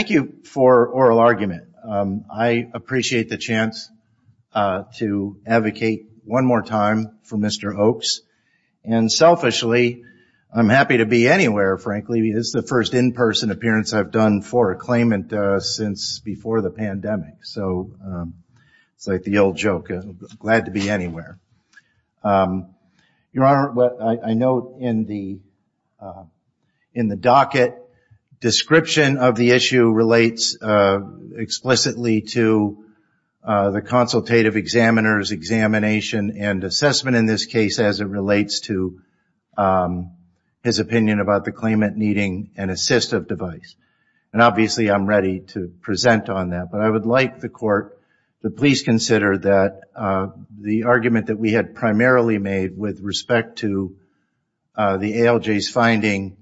Thank you for the oral argument. I appreciate the chance to advocate one more time for Mr. Oakes. Selfishly, I'm happy to be anywhere, frankly. This is the first in-person appearance I've done for a claimant since before the pandemic. It's like the old joke, glad to be anywhere. Your Honor, I note in the docket, description of the issue relates explicitly to the consultative examiner's examination and assessment in this case as it relates to his opinion about the claimant needing an assistive device. Obviously, I'm ready to present on that. I would like the Court to please consider that the argument that we had primarily made with respect to the ALJ's finding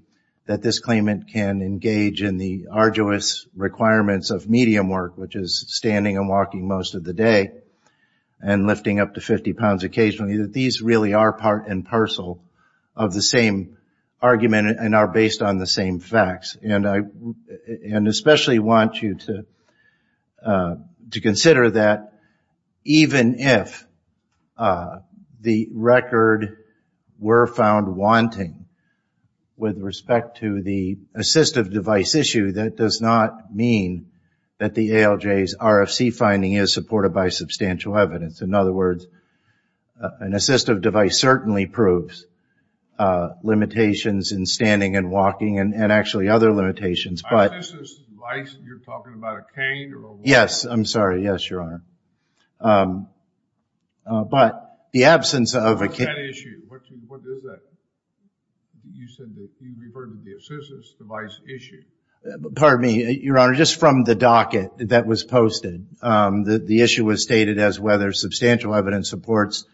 that this claimant can engage in the arduous requirements of medium work, which is standing and walking most of the day and lifting up to 50 pounds occasionally, that these really are part and parcel of the same argument and are based on the same facts. I especially want you to consider that even if the record were found wanting with respect to the assistive device issue, that does not mean that the ALJ's RFC finding is supported by substantial evidence. In other words, an assistive device certainly proves limitations in standing and walking and actually other limitations. Assistive device, you're talking about a cane or a walker? Yes, I'm sorry. Yes, Your Honor. But the absence of a cane... What's that issue? What is that? You said that you referred to the assistive device issue. Pardon me, Your Honor, just from the docket that was posted, the issue was stated as whether substantial evidence supports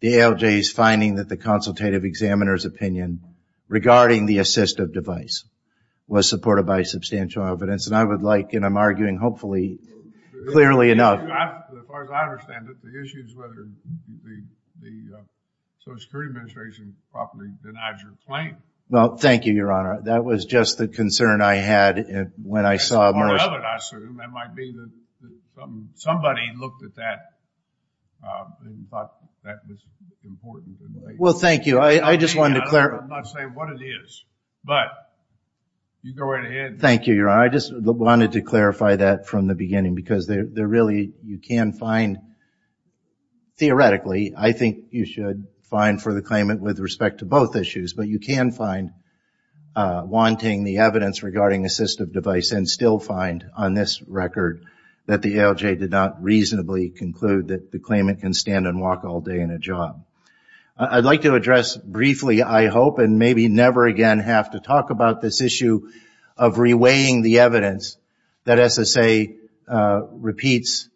the ALJ's finding that the consultative examiner's opinion regarding the assistive device was supported by substantial evidence. And I would like, and I'm arguing hopefully clearly enough... As far as I understand it, the issue is whether the Social Security Administration properly denies your claim. Well, thank you, Your Honor. That was just the concern I had when I saw... I assume that might be that somebody looked at that and thought that was important. Well, thank you. I just wanted to clarify... I'm not saying what it is, but you go right ahead. Thank you, Your Honor. I just wanted to clarify that from the beginning because there really, you can find, theoretically, I think you should find for the claimant with respect to both issues, but you can find wanting the evidence regarding assistive device and still find on this record that the ALJ did not reasonably conclude that the claimant can stand and walk all day in a job. I'd like to address briefly, I hope, and maybe never again have to talk about this issue of reweighing the evidence that SSA repeats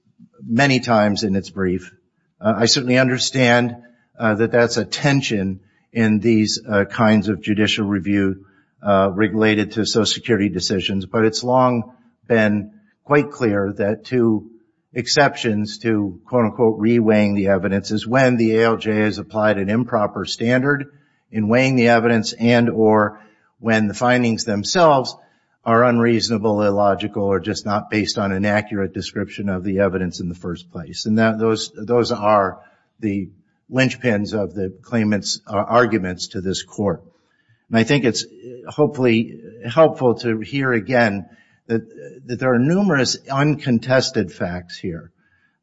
many times in its brief. I certainly understand that that's a tension in these kinds of judicial review related to Social Security decisions, but it's long been quite clear that two exceptions to quote, unquote, reweighing the evidence is when the ALJ has applied an improper standard in weighing the evidence and or when the findings themselves are unreasonable, illogical, or just not based on an accurate description of the evidence in the first place. And those are the linchpins of the claimant's arguments to this court. And I think it's hopefully helpful to hear again that there are numerous uncontested facts here.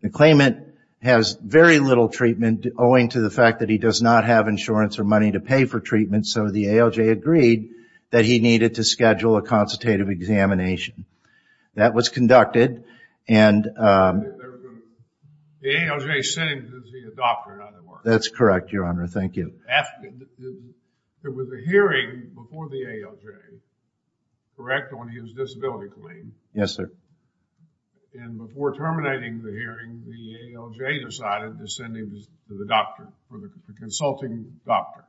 The claimant has very little treatment owing to the fact that he does not have insurance or money to pay for treatment, so the ALJ agreed that he needed to schedule a consultative examination. That was conducted and- The ALJ sent him to see a doctor, in other words. That's correct, Your Honor. Thank you. There was a hearing before the ALJ, correct, on his disability claim. Yes, sir. And before terminating the hearing, the ALJ decided to send him to the doctor, the consulting doctor.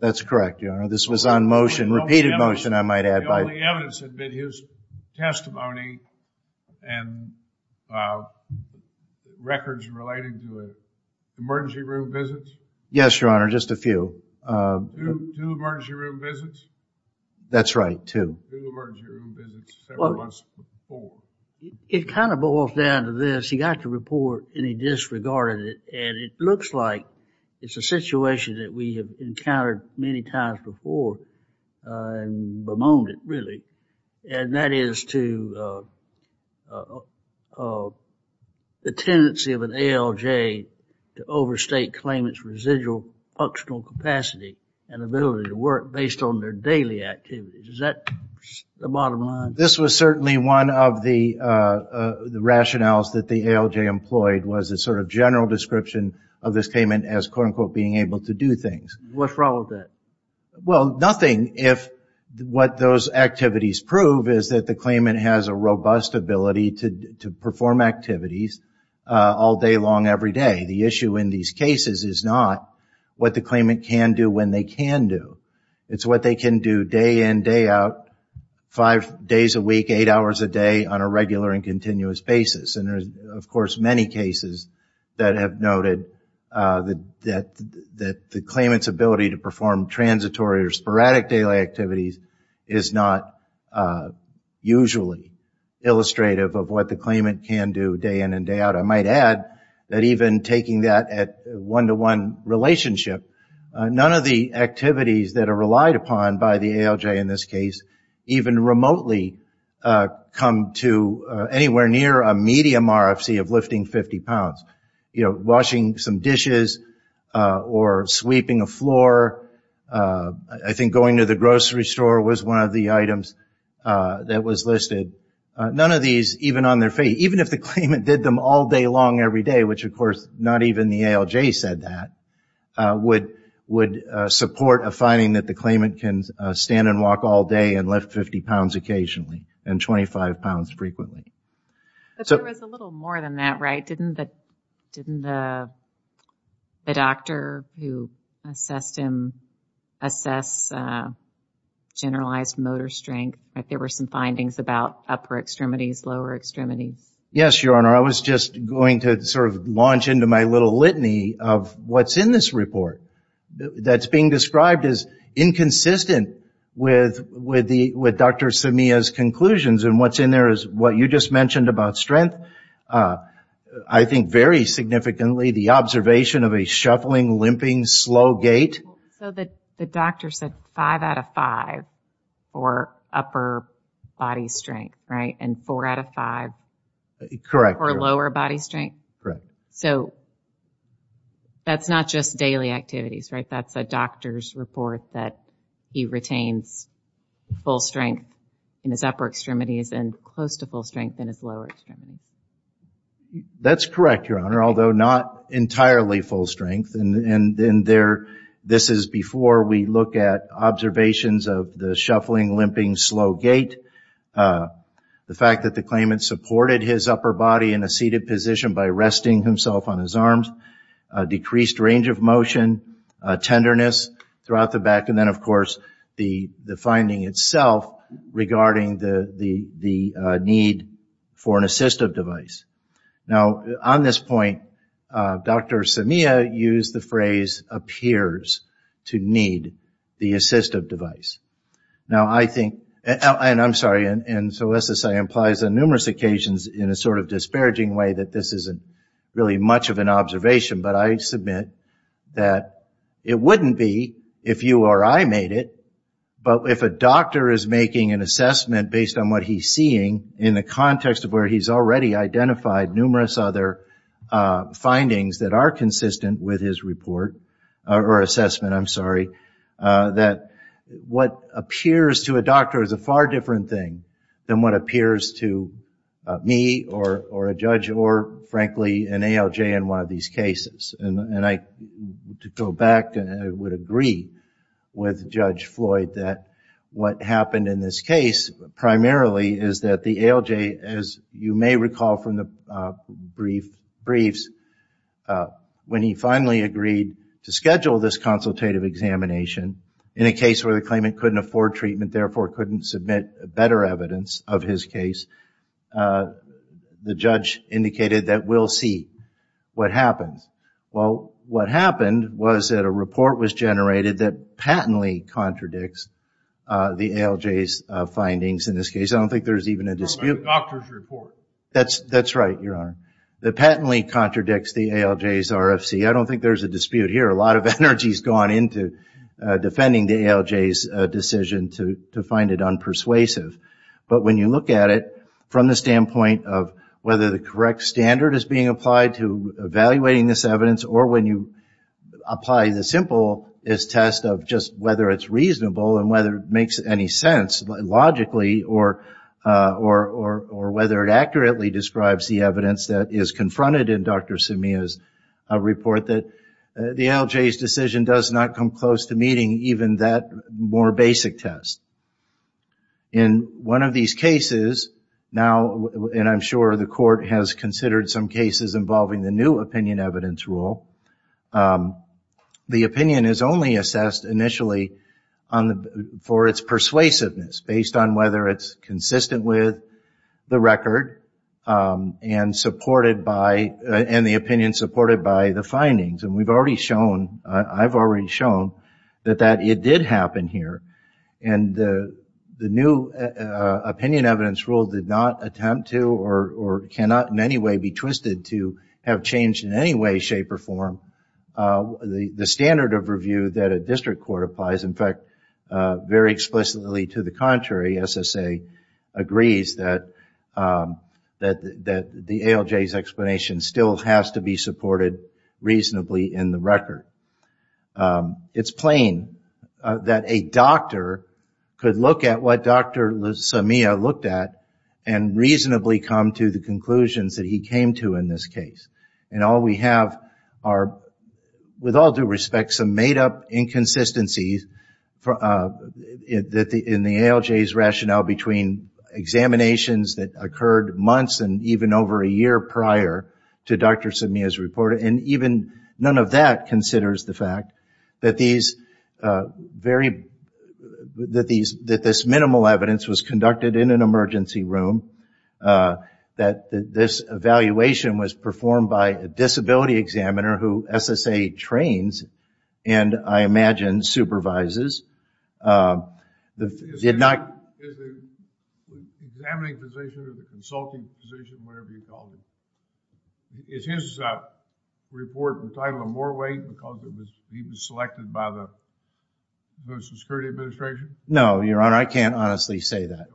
That's correct, Your Honor. This was on motion, repeated motion, I might add. The only evidence had been his testimony and records relating to emergency room visits? Yes, Your Honor, just a few. Two emergency room visits? That's right, two. Two emergency room visits several months before. It kind of boils down to this. He got the report and he disregarded it, and it looks like it's a situation that we have encountered many times before and bemoaned it, really. And that is to the tendency of an ALJ to overstate claimants' residual functional capacity and ability to work based on their daily activities. Is that the bottom line? This was certainly one of the rationales that the ALJ employed was a sort of general description of this claimant as, quote, unquote, being able to do things. What's wrong with that? Well, nothing if what those activities prove is that the claimant has a robust ability to perform activities all day long, every day. The issue in these cases is not what the claimant can do when they can do. It's what they can do day in, day out, five days a week, eight hours a day on a regular and continuous basis. And there's, of course, many cases that have noted that the claimant's ability to perform transitory or sporadic daily activities is not usually illustrative of what the claimant can do day in and day out. I might add that even taking that at one-to-one relationship, none of the activities that are relied upon by the ALJ in this case even remotely come to anywhere near a medium RFC of lifting 50 pounds. You know, washing some dishes or sweeping a floor. I think going to the grocery store was one of the items that was listed. None of these, even on their face, even if the claimant did them all day long every day, which, of course, not even the ALJ said that, would support a finding that the claimant can stand and walk all day and lift 50 pounds occasionally and 25 pounds frequently. But there was a little more than that, right? Didn't the doctor who assessed him assess generalized motor strength? There were some findings about upper extremities, lower extremities. Yes, Your Honor. I was just going to sort of launch into my little litany of what's in this report that's being described as inconsistent with Dr. Samia's conclusions. And what's in there is what you just mentioned about strength. I think very significantly the observation of a shuffling, limping, slow gait. So the doctor said five out of five for upper body strength, right? And four out of five for lower body strength? Correct. So that's not just daily activities, right? That's a doctor's report that he retains full strength in his upper extremities and close to full strength in his lower extremities. That's correct, Your Honor, although not entirely full strength. This is before we look at observations of the shuffling, limping, slow gait. The fact that the claimant supported his upper body in a seated position by resting himself on his arms. Decreased range of motion. Tenderness throughout the back. And then, of course, the finding itself regarding the need for an assistive device. Now, on this point, Dr. Samia used the phrase, appears to need the assistive device. Now, I think, and I'm sorry, and so this implies on numerous occasions in a sort of disparaging way that this isn't really much of an observation. But I submit that it wouldn't be if you or I made it, but if a doctor is making an assessment based on what he's seeing in the context of where he's already identified numerous other findings that are consistent with his report or assessment, I'm sorry, that what appears to a doctor is a far different thing than what appears to me or a judge or, frankly, an ALJ in one of these cases. And to go back, I would agree with Judge Floyd that what happened in this case primarily is that the ALJ, as you may recall from the briefs, when he finally agreed to schedule this consultative examination, in a case where the claimant couldn't afford treatment, therefore couldn't submit better evidence of his case, the judge indicated that we'll see what happens. Well, what happened was that a report was generated that patently contradicts the ALJ's findings in this case. I don't think there's even a dispute. A doctor's report. That's right, Your Honor. That patently contradicts the ALJ's RFC. I don't think there's a dispute here. A lot of energy has gone into defending the ALJ's decision to find it unpersuasive. But when you look at it from the standpoint of whether the correct standard is being applied to evaluating this evidence or when you apply the simplest test of just whether it's reasonable and whether it makes any sense logically or whether it accurately describes the evidence that is confronted in Dr. Semia's report, that the ALJ's decision does not come close to meeting even that more basic test. In one of these cases, and I'm sure the court has considered some cases involving the new opinion evidence rule, the opinion is only assessed initially for its persuasiveness based on whether it's consistent with the record and the opinion supported by the findings. And I've already shown that it did happen here. And the new opinion evidence rule did not attempt to or cannot in any way be twisted to have changed in any way, shape, or form. The standard of review that a district court applies, in fact, very explicitly to the contrary, SSA agrees that the ALJ's explanation still has to be supported reasonably in the record. It's plain that a doctor could look at what Dr. Semia looked at and reasonably come to the conclusions that he came to in this case. And all we have are, with all due respect, some made-up inconsistencies in the ALJ's rationale between examinations that occurred months and even over a year prior to Dr. Semia's report. And even none of that considers the fact that this minimal evidence was conducted in an emergency room, that this evaluation was performed by a disability examiner who SSA trains and, I imagine, supervises. Is the examining physician or the consulting physician, whatever you call him, is his report entitled more weight because he was selected by the Security Administration? No, Your Honor, I can't honestly say that.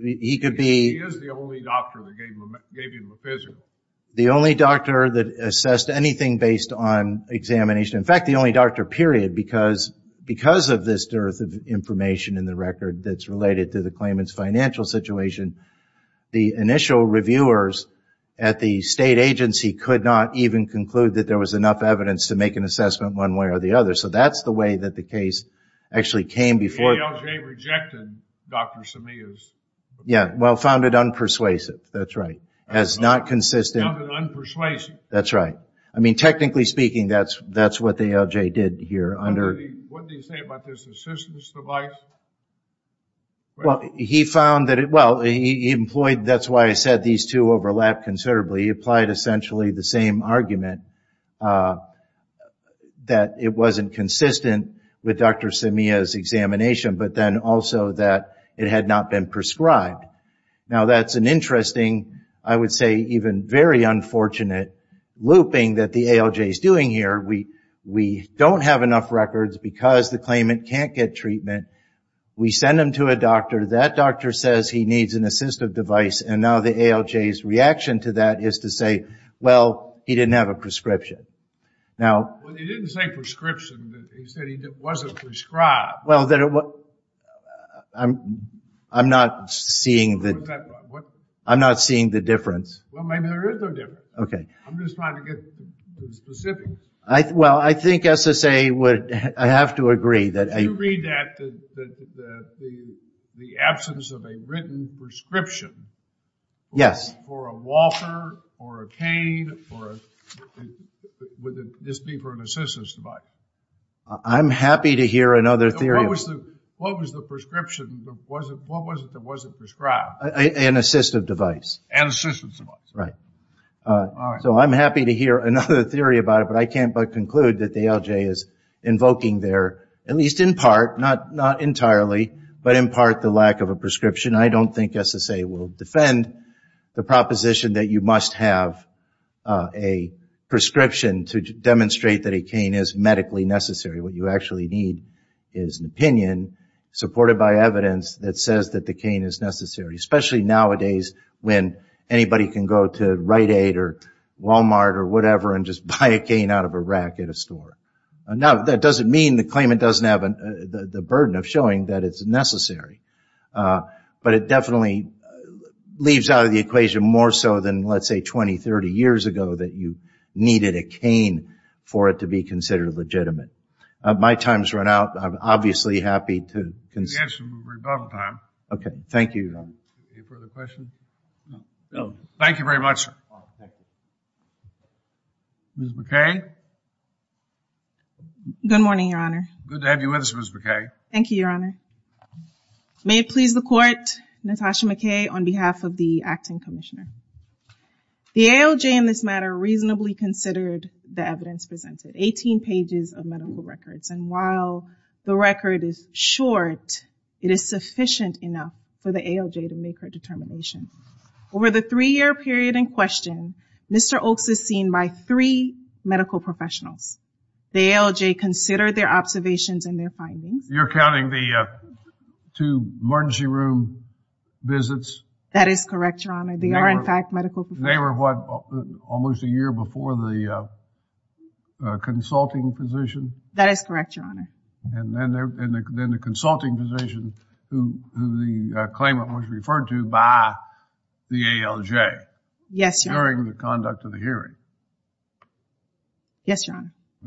He is the only doctor that gave him a physician. The only doctor that assessed anything based on examination. In fact, the only doctor, period, because of this dearth of information in the record that's related to the claimant's financial situation, the initial reviewers at the state agency could not even conclude that there was enough evidence to make an assessment one way or the other. So that's the way that the case actually came before... The ALJ rejected Dr. Semia's... Yeah, well, found it unpersuasive, that's right. Found it unpersuasive. That's right. I mean, technically speaking, that's what the ALJ did here under... What did he say about this assistance device? Well, he found that it... Well, he employed... That's why I said these two overlap considerably. He applied essentially the same argument that it wasn't consistent with Dr. Semia's examination, but then also that it had not been prescribed. Now, that's an interesting, I would say even very unfortunate, looping that the ALJ is doing here. We don't have enough records because the claimant can't get treatment. We send him to a doctor. That doctor says he needs an assistive device, and now the ALJ's reaction to that is to say, well, he didn't have a prescription. Well, he didn't say prescription. He said he wasn't prescribed. Well, I'm not seeing the difference. Well, maybe there is no difference. Okay. I'm just trying to get the specifics. Well, I think SSA would have to agree that... If you read that, the absence of a written prescription for a walker or a cane, would this be for an assistance device? I'm happy to hear another theory. What was the prescription? What was it that wasn't prescribed? An assistive device. An assistance device. Right. So I'm happy to hear another theory about it, but I can't but conclude that the ALJ is invoking there, at least in part, not entirely, but in part the lack of a prescription. I don't think SSA will defend the proposition that you must have a prescription to demonstrate that a cane is medically necessary. What you actually need is an opinion, supported by evidence, that says that the cane is necessary, especially nowadays when anybody can go to Rite Aid or Walmart or whatever and just buy a cane out of a rack at a store. Now, that doesn't mean the claimant doesn't have the burden of showing that it's necessary, but it definitely leaves out of the equation more so than, let's say, 20, 30 years ago that you needed a cane for it to be considered legitimate. My time has run out. I'm obviously happy to consider. Yes, we're above time. Okay. Thank you, Your Honor. Any further questions? No. Thank you very much. Ms. McKay? Good morning, Your Honor. Good to have you with us, Ms. McKay. Thank you, Your Honor. May it please the Court, Natasha McKay, on behalf of the Acting Commissioner. The ALJ in this matter reasonably considered the evidence presented, 18 pages of medical records, and while the record is short, it is sufficient enough for the ALJ to make her determination. Over the three-year period in question, Mr. Oaks is seen by three medical professionals. The ALJ considered their observations and their findings. You're counting the two emergency room visits? That is correct, Your Honor. They are, in fact, medical professionals. They were what, almost a year before the consulting physician? That is correct, Your Honor. And then the consulting physician who the claimant was referred to by the ALJ? Yes, Your Honor. During the conduct of the hearing? Yes, Your Honor. Okay.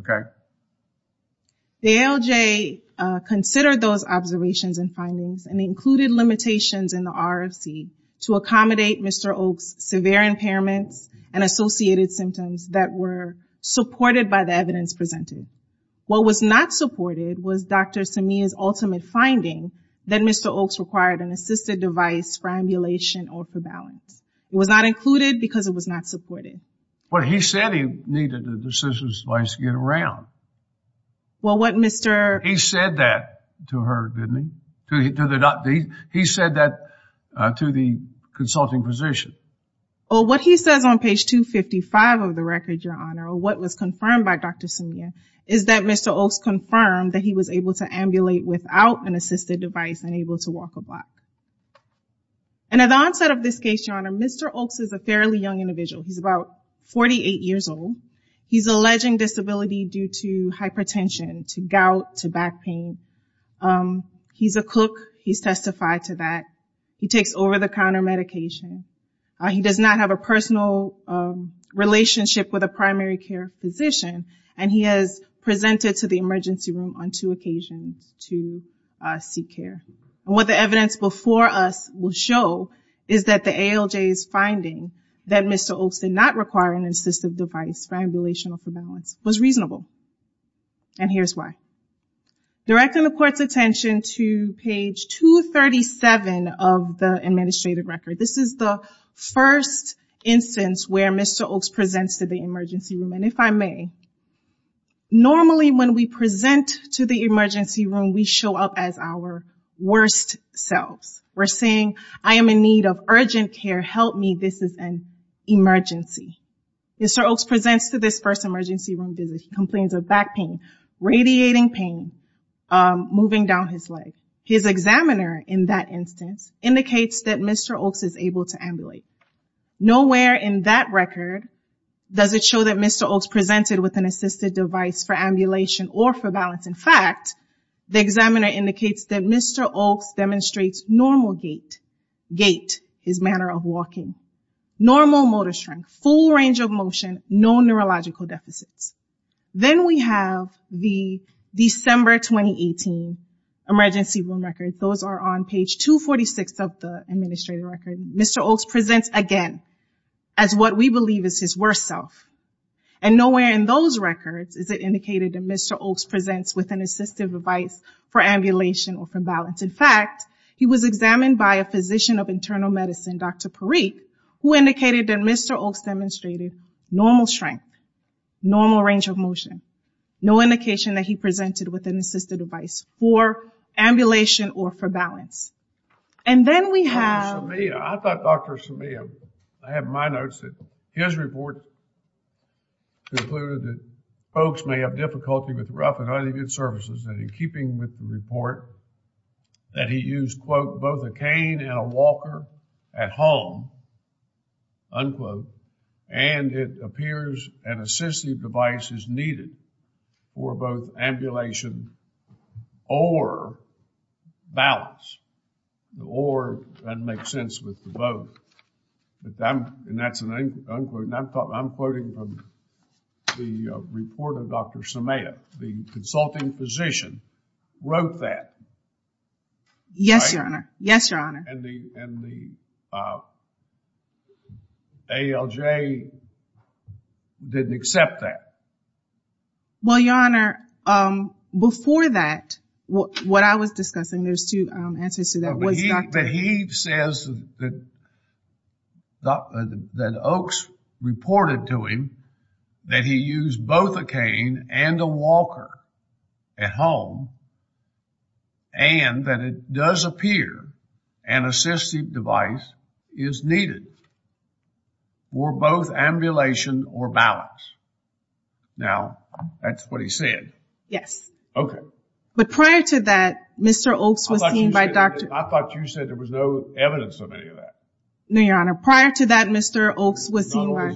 The ALJ considered those observations and findings and included limitations in the RFC to accommodate Mr. Oaks' severe impairments and associated symptoms that were supported by the evidence presented. What was not supported was Dr. Samia's ultimate finding that Mr. Oaks required an assisted device for ambulation or for balance. It was not included because it was not supported. But he said he needed an assisted device to get around. Well, what Mr.... He said that to her, didn't he? He said that to the consulting physician. Well, what he says on page 255 of the record, Your Honor, or what was confirmed by Dr. Samia, is that Mr. Oaks confirmed that he was able to ambulate without an assisted device and able to walk a block. And at the onset of this case, Your Honor, Mr. Oaks is a fairly young individual. He's about 48 years old. He's alleging disability due to hypertension, to gout, to back pain. He's a cook. He's testified to that. He takes over-the-counter medication. He does not have a personal relationship with a primary care physician, and he has presented to the emergency room on two occasions to seek care. And what the evidence before us will show is that the ALJ's finding that Mr. Oaks did not require an assisted device for ambulation or for balance was reasonable. And here's why. Directing the Court's attention to page 237 of the administrative record. This is the first instance where Mr. Oaks presents to the emergency room. And if I may, normally when we present to the emergency room, we show up as our worst selves. We're saying, I am in need of urgent care, help me, this is an emergency. Mr. Oaks presents to this first emergency room visit. He complains of back pain, radiating pain, moving down his leg. His examiner in that instance indicates that Mr. Oaks is able to ambulate. Nowhere in that record does it show that Mr. Oaks presented with an assisted device for ambulation or for balance. In fact, the examiner indicates that Mr. Oaks demonstrates normal gait, his manner of walking, normal motor strength, full range of motion, no neurological deficits. Then we have the December 2018 emergency room record. Those are on page 246 of the administrative record. Mr. Oaks presents again as what we believe is his worst self. And nowhere in those records is it indicated that Mr. Oaks presents with an assisted device for ambulation or for balance. In fact, he was examined by a physician of internal medicine, Dr. Parikh, who indicated that Mr. Oaks demonstrated normal strength, normal range of motion, no indication that he presented with an assisted device for ambulation or for balance. And then we have... I thought Dr. Simeon, I have my notes, that his report concluded that folks may have difficulty with rough and uneven surfaces. And in keeping with the report that he used, quote, both a cane and a walker at home, unquote, and it appears an assistive device is needed for both ambulation or balance. Or that makes sense with the both. And that's an unquote. And I'm quoting from the report of Dr. Simeon. The consulting physician wrote that. Yes, Your Honor. Yes, Your Honor. And the ALJ didn't accept that. Well, Your Honor, before that, what I was discussing, there's two answers to that. But he says that Oaks reported to him that he used both a cane and a walker at home and that it does appear an assistive device is needed for both ambulation or balance. Now, that's what he said. Yes. Okay. But prior to that, Mr. Oaks was seen by Dr. I thought you said there was no evidence of any of that. No, Your Honor. Prior to that, Mr. Oaks was seen by.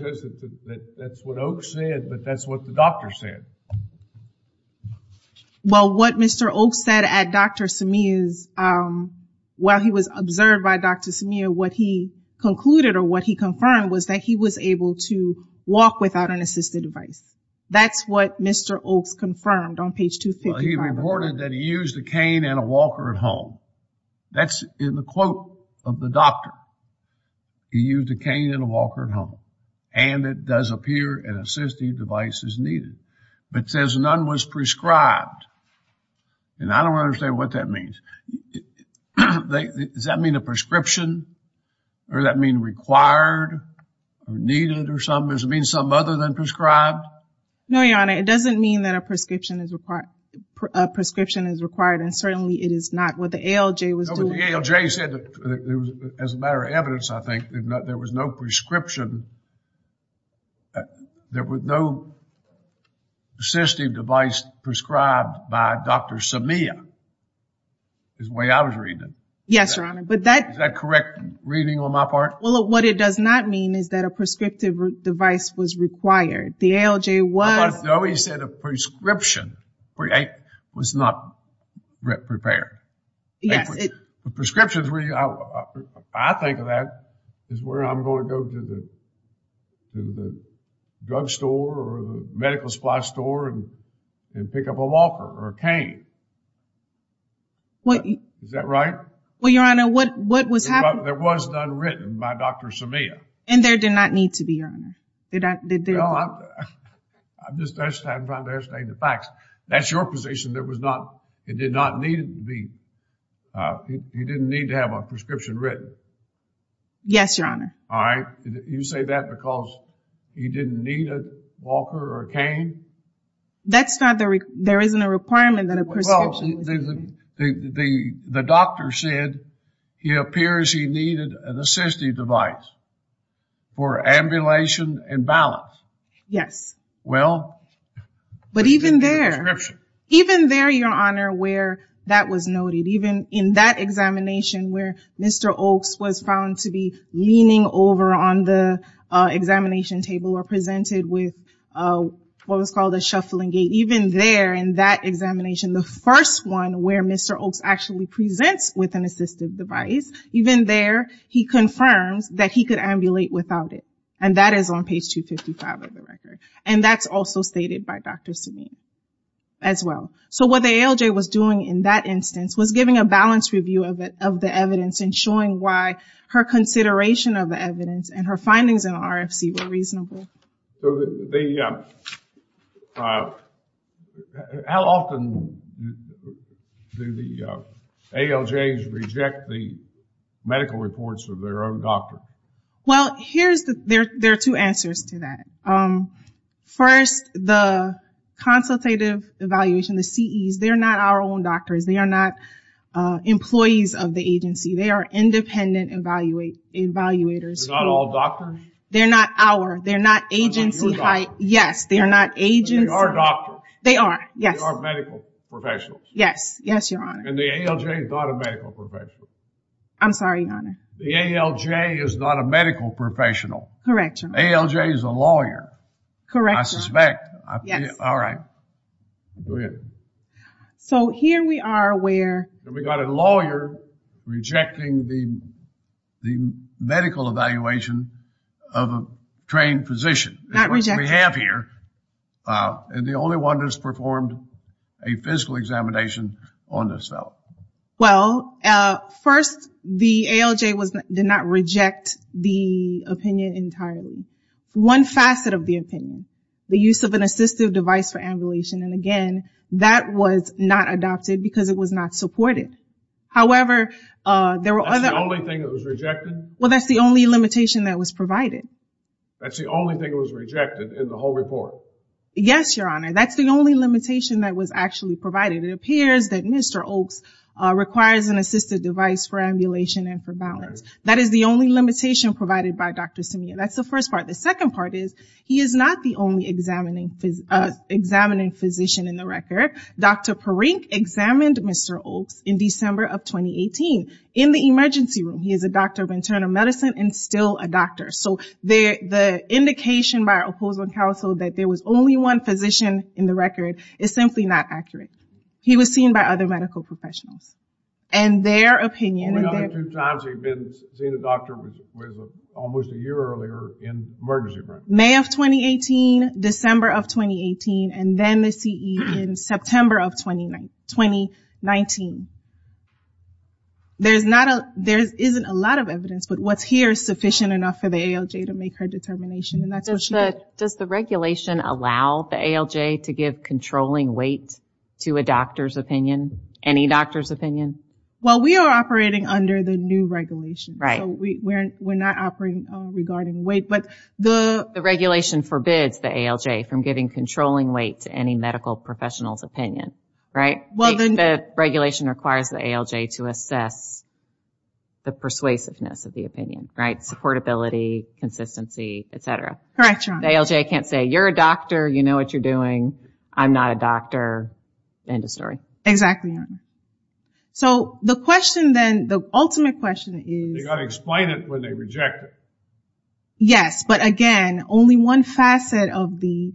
That's what Oaks said, but that's what the doctor said. Well, what Mr. Oaks said at Dr. Simeon's, while he was observed by Dr. Simeon, what he concluded or what he confirmed was that he was able to walk without an assistive device. That's what Mr. Oaks confirmed on page 255. Well, he reported that he used a cane and a walker at home. That's in the quote of the doctor. He used a cane and a walker at home. And it does appear an assistive device is needed. But it says none was prescribed. And I don't understand what that means. Does that mean a prescription? Or does that mean required or needed or something? Does it mean something other than prescribed? No, Your Honor. It doesn't mean that a prescription is required. And certainly it is not what the ALJ was doing. But the ALJ said, as a matter of evidence, I think, there was no prescription. There was no assistive device prescribed by Dr. Simeon. Is the way I was reading it. Yes, Your Honor. Is that correct reading on my part? Well, what it does not mean is that a prescriptive device was required. The ALJ was. No, he said a prescription was not prepared. Yes. Prescriptions, I think of that as where I'm going to go to the drugstore or the medical supply store and pick up a walker or a cane. Is that right? Well, Your Honor, what was happening? There was none written by Dr. Simeon. And there did not need to be, Your Honor. I'm just trying to ascertain the facts. That's your position. It did not need to be. He didn't need to have a prescription written. Yes, Your Honor. All right. You say that because he didn't need a walker or a cane? There isn't a requirement that a prescription. Well, the doctor said it appears he needed an assistive device for ambulation and balance. Yes. Well. But even there, Your Honor, where that was noted, even in that examination where Mr. Oaks was found to be leaning over on the examination table or presented with what was called a shuffling gait, even there in that examination, the first one where Mr. Oaks actually presents with an assistive device, even there he confirms that he could ambulate without it. And that is on page 255 of the record. And that's also stated by Dr. Simeon as well. So what the ALJ was doing in that instance was giving a balance review of the evidence and showing why her consideration of the evidence and her findings in the RFC were reasonable. How often do the ALJs reject the medical reports of their own doctor? Well, there are two answers to that. First, the consultative evaluation, the CEs, they're not our own doctors. They are not employees of the agency. They are independent evaluators. They're not all doctors? They're not our, they're not agency. Yes, they are not agency. They are doctors. They are, yes. They are medical professionals. Yes, yes, Your Honor. And the ALJ is not a medical professional. I'm sorry, Your Honor. The ALJ is not a medical professional. Correct, Your Honor. ALJ is a lawyer. Correct, Your Honor. I suspect. Yes. All right. Go ahead. So here we are where. We got a lawyer rejecting the medical evaluation of a trained physician. Not rejected. Which we have here. And the only one that's performed a physical examination on this fellow. Well, first, the ALJ did not reject the opinion entirely. One facet of the opinion, the use of an assistive device for ambulation, and again, that was not adopted because it was not supported. However, there were other. That's the only thing that was rejected? Well, that's the only limitation that was provided. That's the only thing that was rejected in the whole report? Yes, Your Honor. That's the only limitation that was actually provided. It appears that Mr. Oaks requires an assistive device for ambulation and for balance. That is the only limitation provided by Dr. Samir. That's the first part. The second part is he is not the only examining physician in the record. Dr. Parikh examined Mr. Oaks in December of 2018 in the emergency room. He is a doctor of internal medicine and still a doctor. So the indication by our opposing counsel that there was only one physician in the record is simply not accurate. He was seen by other medical professionals. And their opinion. The only other two times he'd been seen a doctor was almost a year earlier in the emergency room. May of 2018, December of 2018, and then the CE in September of 2019. There isn't a lot of evidence, but what's here is sufficient enough for the ALJ to make her determination. Does the regulation allow the ALJ to give controlling weight to a doctor's opinion? Any doctor's opinion? Well, we are operating under the new regulation. So we're not operating regarding weight. But the regulation forbids the ALJ from giving controlling weight to any medical professional's opinion, right? The regulation requires the ALJ to assess the persuasiveness of the opinion, right? Supportability, consistency, et cetera. Correct, Your Honor. The ALJ can't say, you're a doctor, you know what you're doing, I'm not a doctor, end of story. Exactly, Your Honor. So the question then, the ultimate question is... They got to explain it when they reject it. Yes, but again, only one facet of the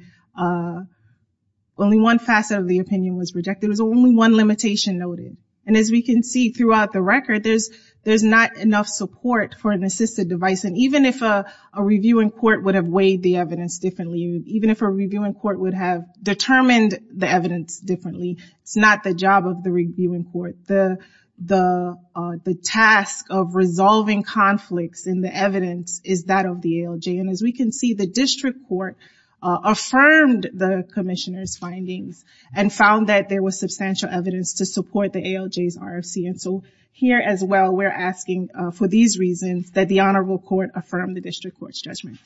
opinion was rejected. There's only one limitation noted. And as we can see throughout the record, there's not enough support for an assisted device. And even if a review in court would have weighed the evidence differently, even if a review in court would have determined the evidence differently, it's not the job of the review in court. The task of resolving conflicts in the evidence is that of the ALJ. And as we can see, the district court affirmed the commissioner's findings and found that there was substantial evidence to support the ALJ's RFC. And so here as well, we're asking for these reasons that the honorable court affirm the district court's judgment.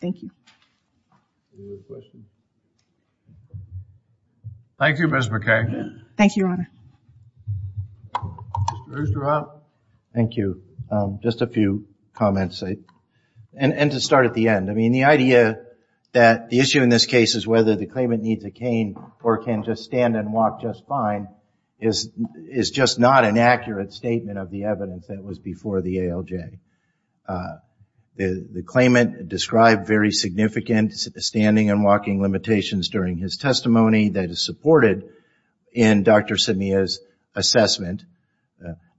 Thank you. Any other questions? Thank you, Ms. McKay. Thank you, Your Honor. Mr. Oosterhout. Thank you. Just a few comments, and to start at the end. I mean, the idea that the issue in this case is whether the claimant needs a cane or can just stand and walk just fine is just not an accurate statement of the evidence that was before the ALJ. The claimant described very significant standing and walking limitations during his testimony that is supported in Dr. Samia's assessment.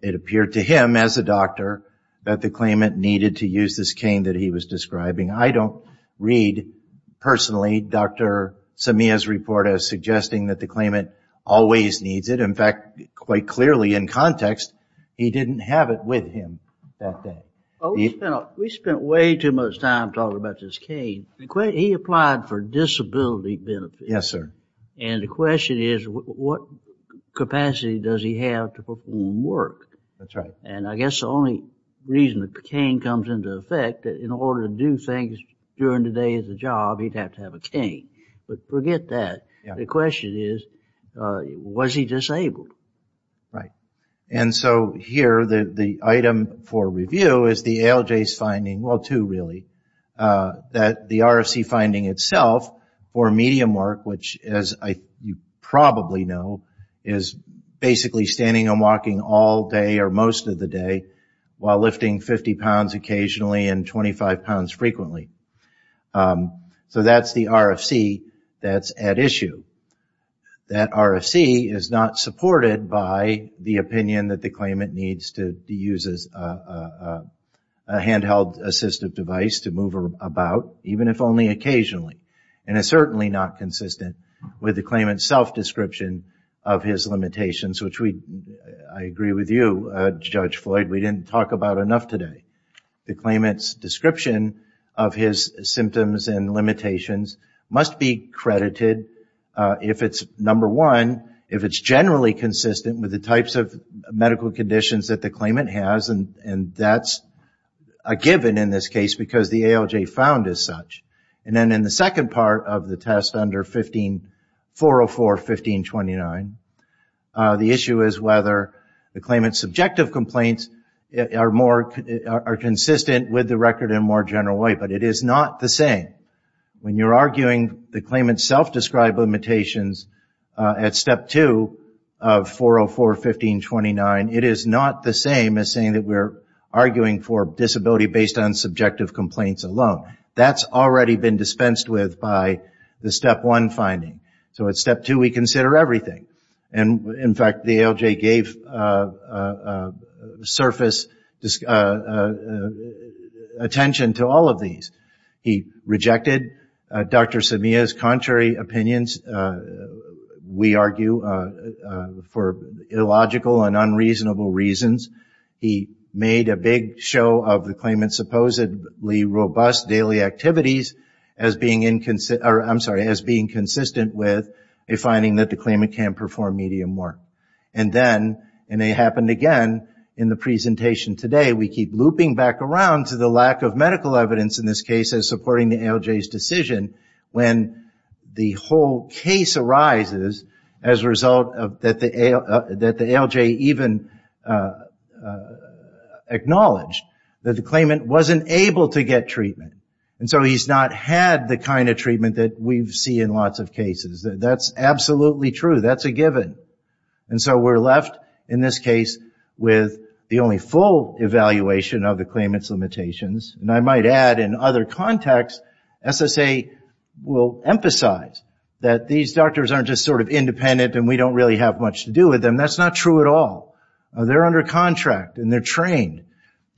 It appeared to him as a doctor that the claimant needed to use this cane that he was describing. I don't read personally Dr. Samia's report as suggesting that the claimant always needs it. In fact, quite clearly in context, he didn't have it with him that day. We spent way too much time talking about this cane. He applied for disability benefits. Yes, sir. And the question is what capacity does he have to perform work? That's right. And I guess the only reason the cane comes into effect, in order to do things during the day at the job, he'd have to have a cane. But forget that. The question is, was he disabled? Right. And so here the item for review is the ALJ's finding, well two really, that the RFC finding itself for medium work, which as you probably know, is basically standing and walking all day or most of the day while lifting 50 pounds occasionally and 25 pounds frequently. So that's the RFC that's at issue. That RFC is not supported by the opinion that the claimant needs to use a handheld assistive device to move about, even if only occasionally. And it's certainly not consistent with the claimant's self-description of his limitations, which I agree with you, Judge Floyd, we didn't talk about enough today. The claimant's description of his symptoms and limitations must be credited, if it's number one, if it's generally consistent with the types of medical conditions that the claimant has, and that's a given in this case because the ALJ found as such. And then in the second part of the test under 404.15.29, the issue is whether the claimant's subjective complaints are consistent with the record in a more general way, but it is not the same. When you're arguing the claimant's self-described limitations at Step 2 of 404.15.29, it is not the same as saying that we're arguing for disability based on subjective complaints alone. That's already been dispensed with by the Step 1 finding. So at Step 2 we consider everything. In fact, the ALJ gave surface attention to all of these. He rejected Dr. Samia's contrary opinions, we argue, for illogical and unreasonable reasons. He made a big show of the claimant's supposedly robust daily activities as being inconsistent, I'm sorry, as being consistent with a finding that the claimant can't perform medium work. And then, and it happened again in the presentation today, we keep looping back around to the lack of medical evidence in this case as supporting the ALJ's decision when the whole case arises as a result that the ALJ even acknowledged that the claimant wasn't able to get treatment. And so he's not had the kind of treatment that we've seen in lots of cases. That's absolutely true. That's a given. And so we're left in this case with the only full evaluation of the claimant's limitations. And I might add, in other contexts, SSA will emphasize that these doctors aren't just sort of independent and we don't really have much to do with them. That's not true at all. They're under contract and they're trained.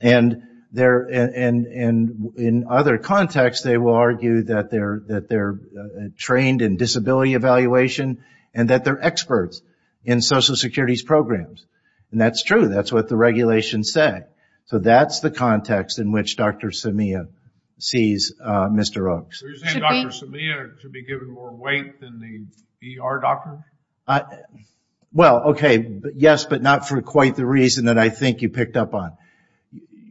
And in other contexts they will argue that they're trained in disability evaluation and that they're experts in Social Security's programs. And that's true. That's what the regulations say. So that's the context in which Dr. Samia sees Mr. Oaks. Are you saying Dr. Samia should be given more weight than the ER doctor? Well, okay, yes, but not for quite the reason that I think you picked up on.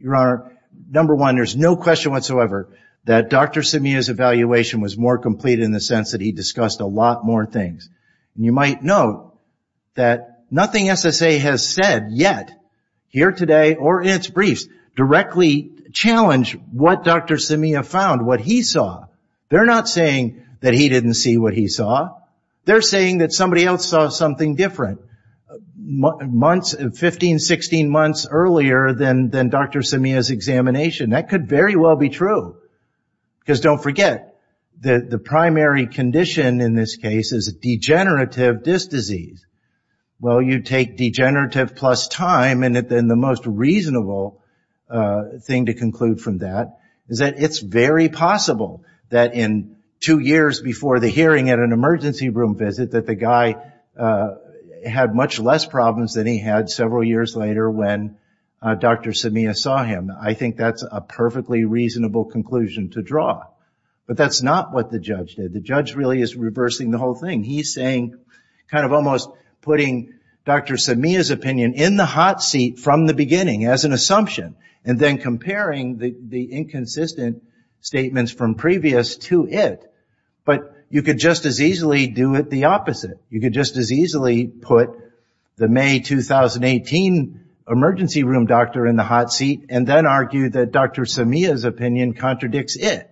Your Honor, number one, there's no question whatsoever that Dr. Samia's evaluation was more complete in the sense that he discussed a lot more things. And you might note that nothing SSA has said yet, here today or in its briefs, directly challenged what Dr. Samia found, what he saw. They're not saying that he didn't see what he saw. They're saying that somebody else saw something different 15, 16 months earlier than Dr. Samia's examination. That could very well be true. Because don't forget, the primary condition in this case is degenerative disc disease. Well, you take degenerative plus time, and the most reasonable thing to conclude from that is that it's very possible that in two years before the hearing at an emergency room visit that the guy had much less problems than he had several years later when Dr. Samia saw him. I think that's a perfectly reasonable conclusion to draw. But that's not what the judge did. The judge really is reversing the whole thing. He's saying, kind of almost putting Dr. Samia's opinion in the hot seat from the beginning as an assumption and then comparing the inconsistent statements from previous to it. But you could just as easily do it the opposite. You could just as easily put the May 2018 emergency room doctor in the hot seat and then argue that Dr. Samia's opinion contradicts it.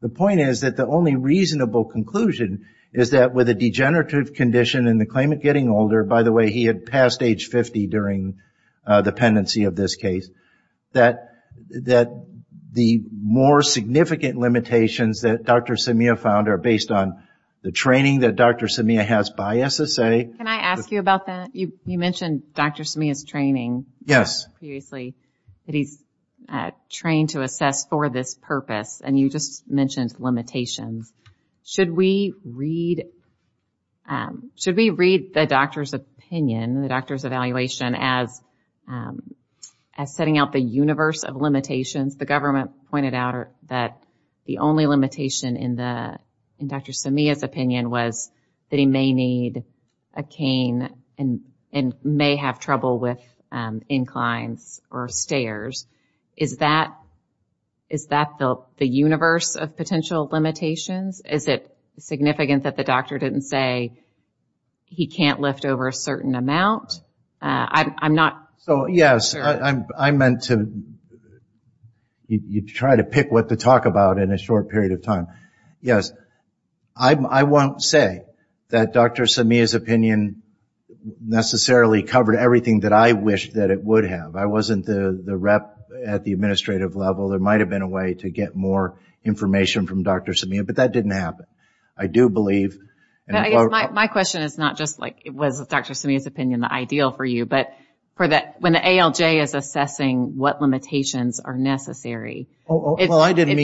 The point is that the only reasonable conclusion is that with a degenerative condition and the claimant getting older, by the way, he had passed age 50 during the pendency of this case, that the more significant limitations that Dr. Samia found are based on the training that Dr. Samia has by SSA. Can I ask you about that? You mentioned Dr. Samia's training. Yes. Previously, that he's trained to assess for this purpose. And you just mentioned limitations. Should we read the doctor's opinion, the doctor's evaluation as setting out the universe of limitations? The government pointed out that the only limitation in Dr. Samia's opinion was that he may need a cane and may have trouble with inclines or stairs. Is that the universe of potential limitations? Is it significant that the doctor didn't say he can't lift over a certain amount? I'm not sure. Yes. I meant to try to pick what to talk about in a short period of time. Yes. I won't say that Dr. Samia's opinion necessarily covered everything that I wished that it would have. I wasn't the rep at the administrative level. There might have been a way to get more information from Dr. Samia, but that didn't happen. My question is not just was Dr. Samia's opinion the ideal for you, but when the ALJ is assessing what limitations are necessary, can the ALJ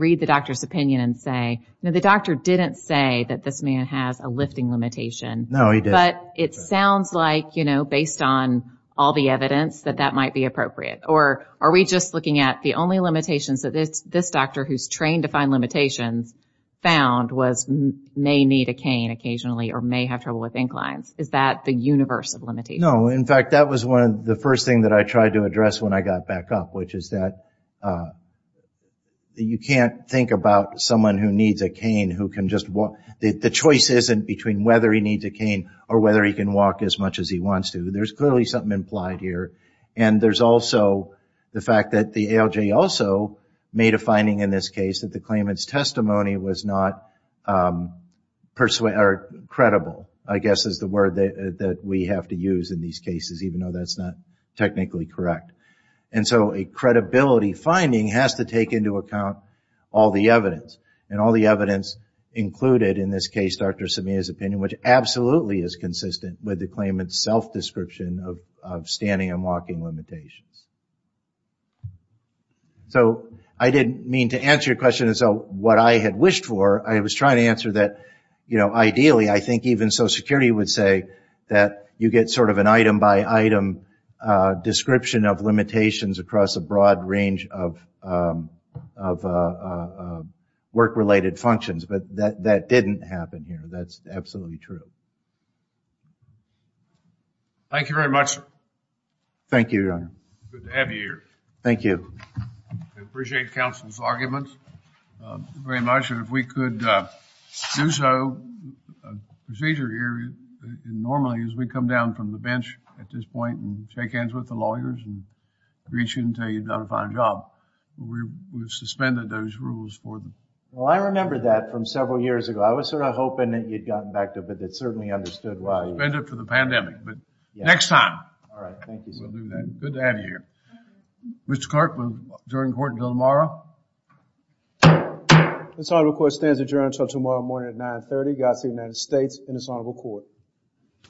read the doctor's opinion and say, the doctor didn't say that this man has a lifting limitation. No, he didn't. But it sounds like, based on all the evidence, that that might be appropriate. Or are we just looking at the only limitations that this doctor, who's trained to find limitations, found was may need a cane occasionally or may have trouble with inclines? Is that the universe of limitations? No. In fact, that was the first thing that I tried to address when I got back up, which is that you can't think about someone who needs a cane who can just walk. The choice isn't between whether he needs a cane or whether he can walk as much as he wants to. There's clearly something implied here. And there's also the fact that the ALJ also made a finding in this case that the claimant's testimony was not credible, I guess is the word that we have to use in these cases, even though that's not technically correct. And so a credibility finding has to take into account all the evidence. And all the evidence included in this case, Dr. Sameha's opinion, which absolutely is consistent with the claimant's self-description of standing and walking limitations. So I didn't mean to answer your question as to what I had wished for. I was trying to answer that, ideally, I think even Social Security would say that you get sort of an item-by-item description of limitations across a broad range of work-related functions. But that didn't happen here. That's absolutely true. Thank you very much. Thank you, Your Honor. Good to have you here. Thank you. I appreciate counsel's arguments very much. And if we could do so, a procedure here normally is we come down from the bench at this point and shake hands with the lawyers and reach in and tell you you've done a fine job. We've suspended those rules for them. Well, I remember that from several years ago. I was sort of hoping that you'd gotten back to it, but it certainly understood why. You've been there for the pandemic, but next time. All right. Thank you, sir. We'll do that. Good to have you here. Mr. Clark, we'll adjourn court until tomorrow. This honorable court stands adjourned until tomorrow morning at 930. Godspeed to the United States and this honorable court.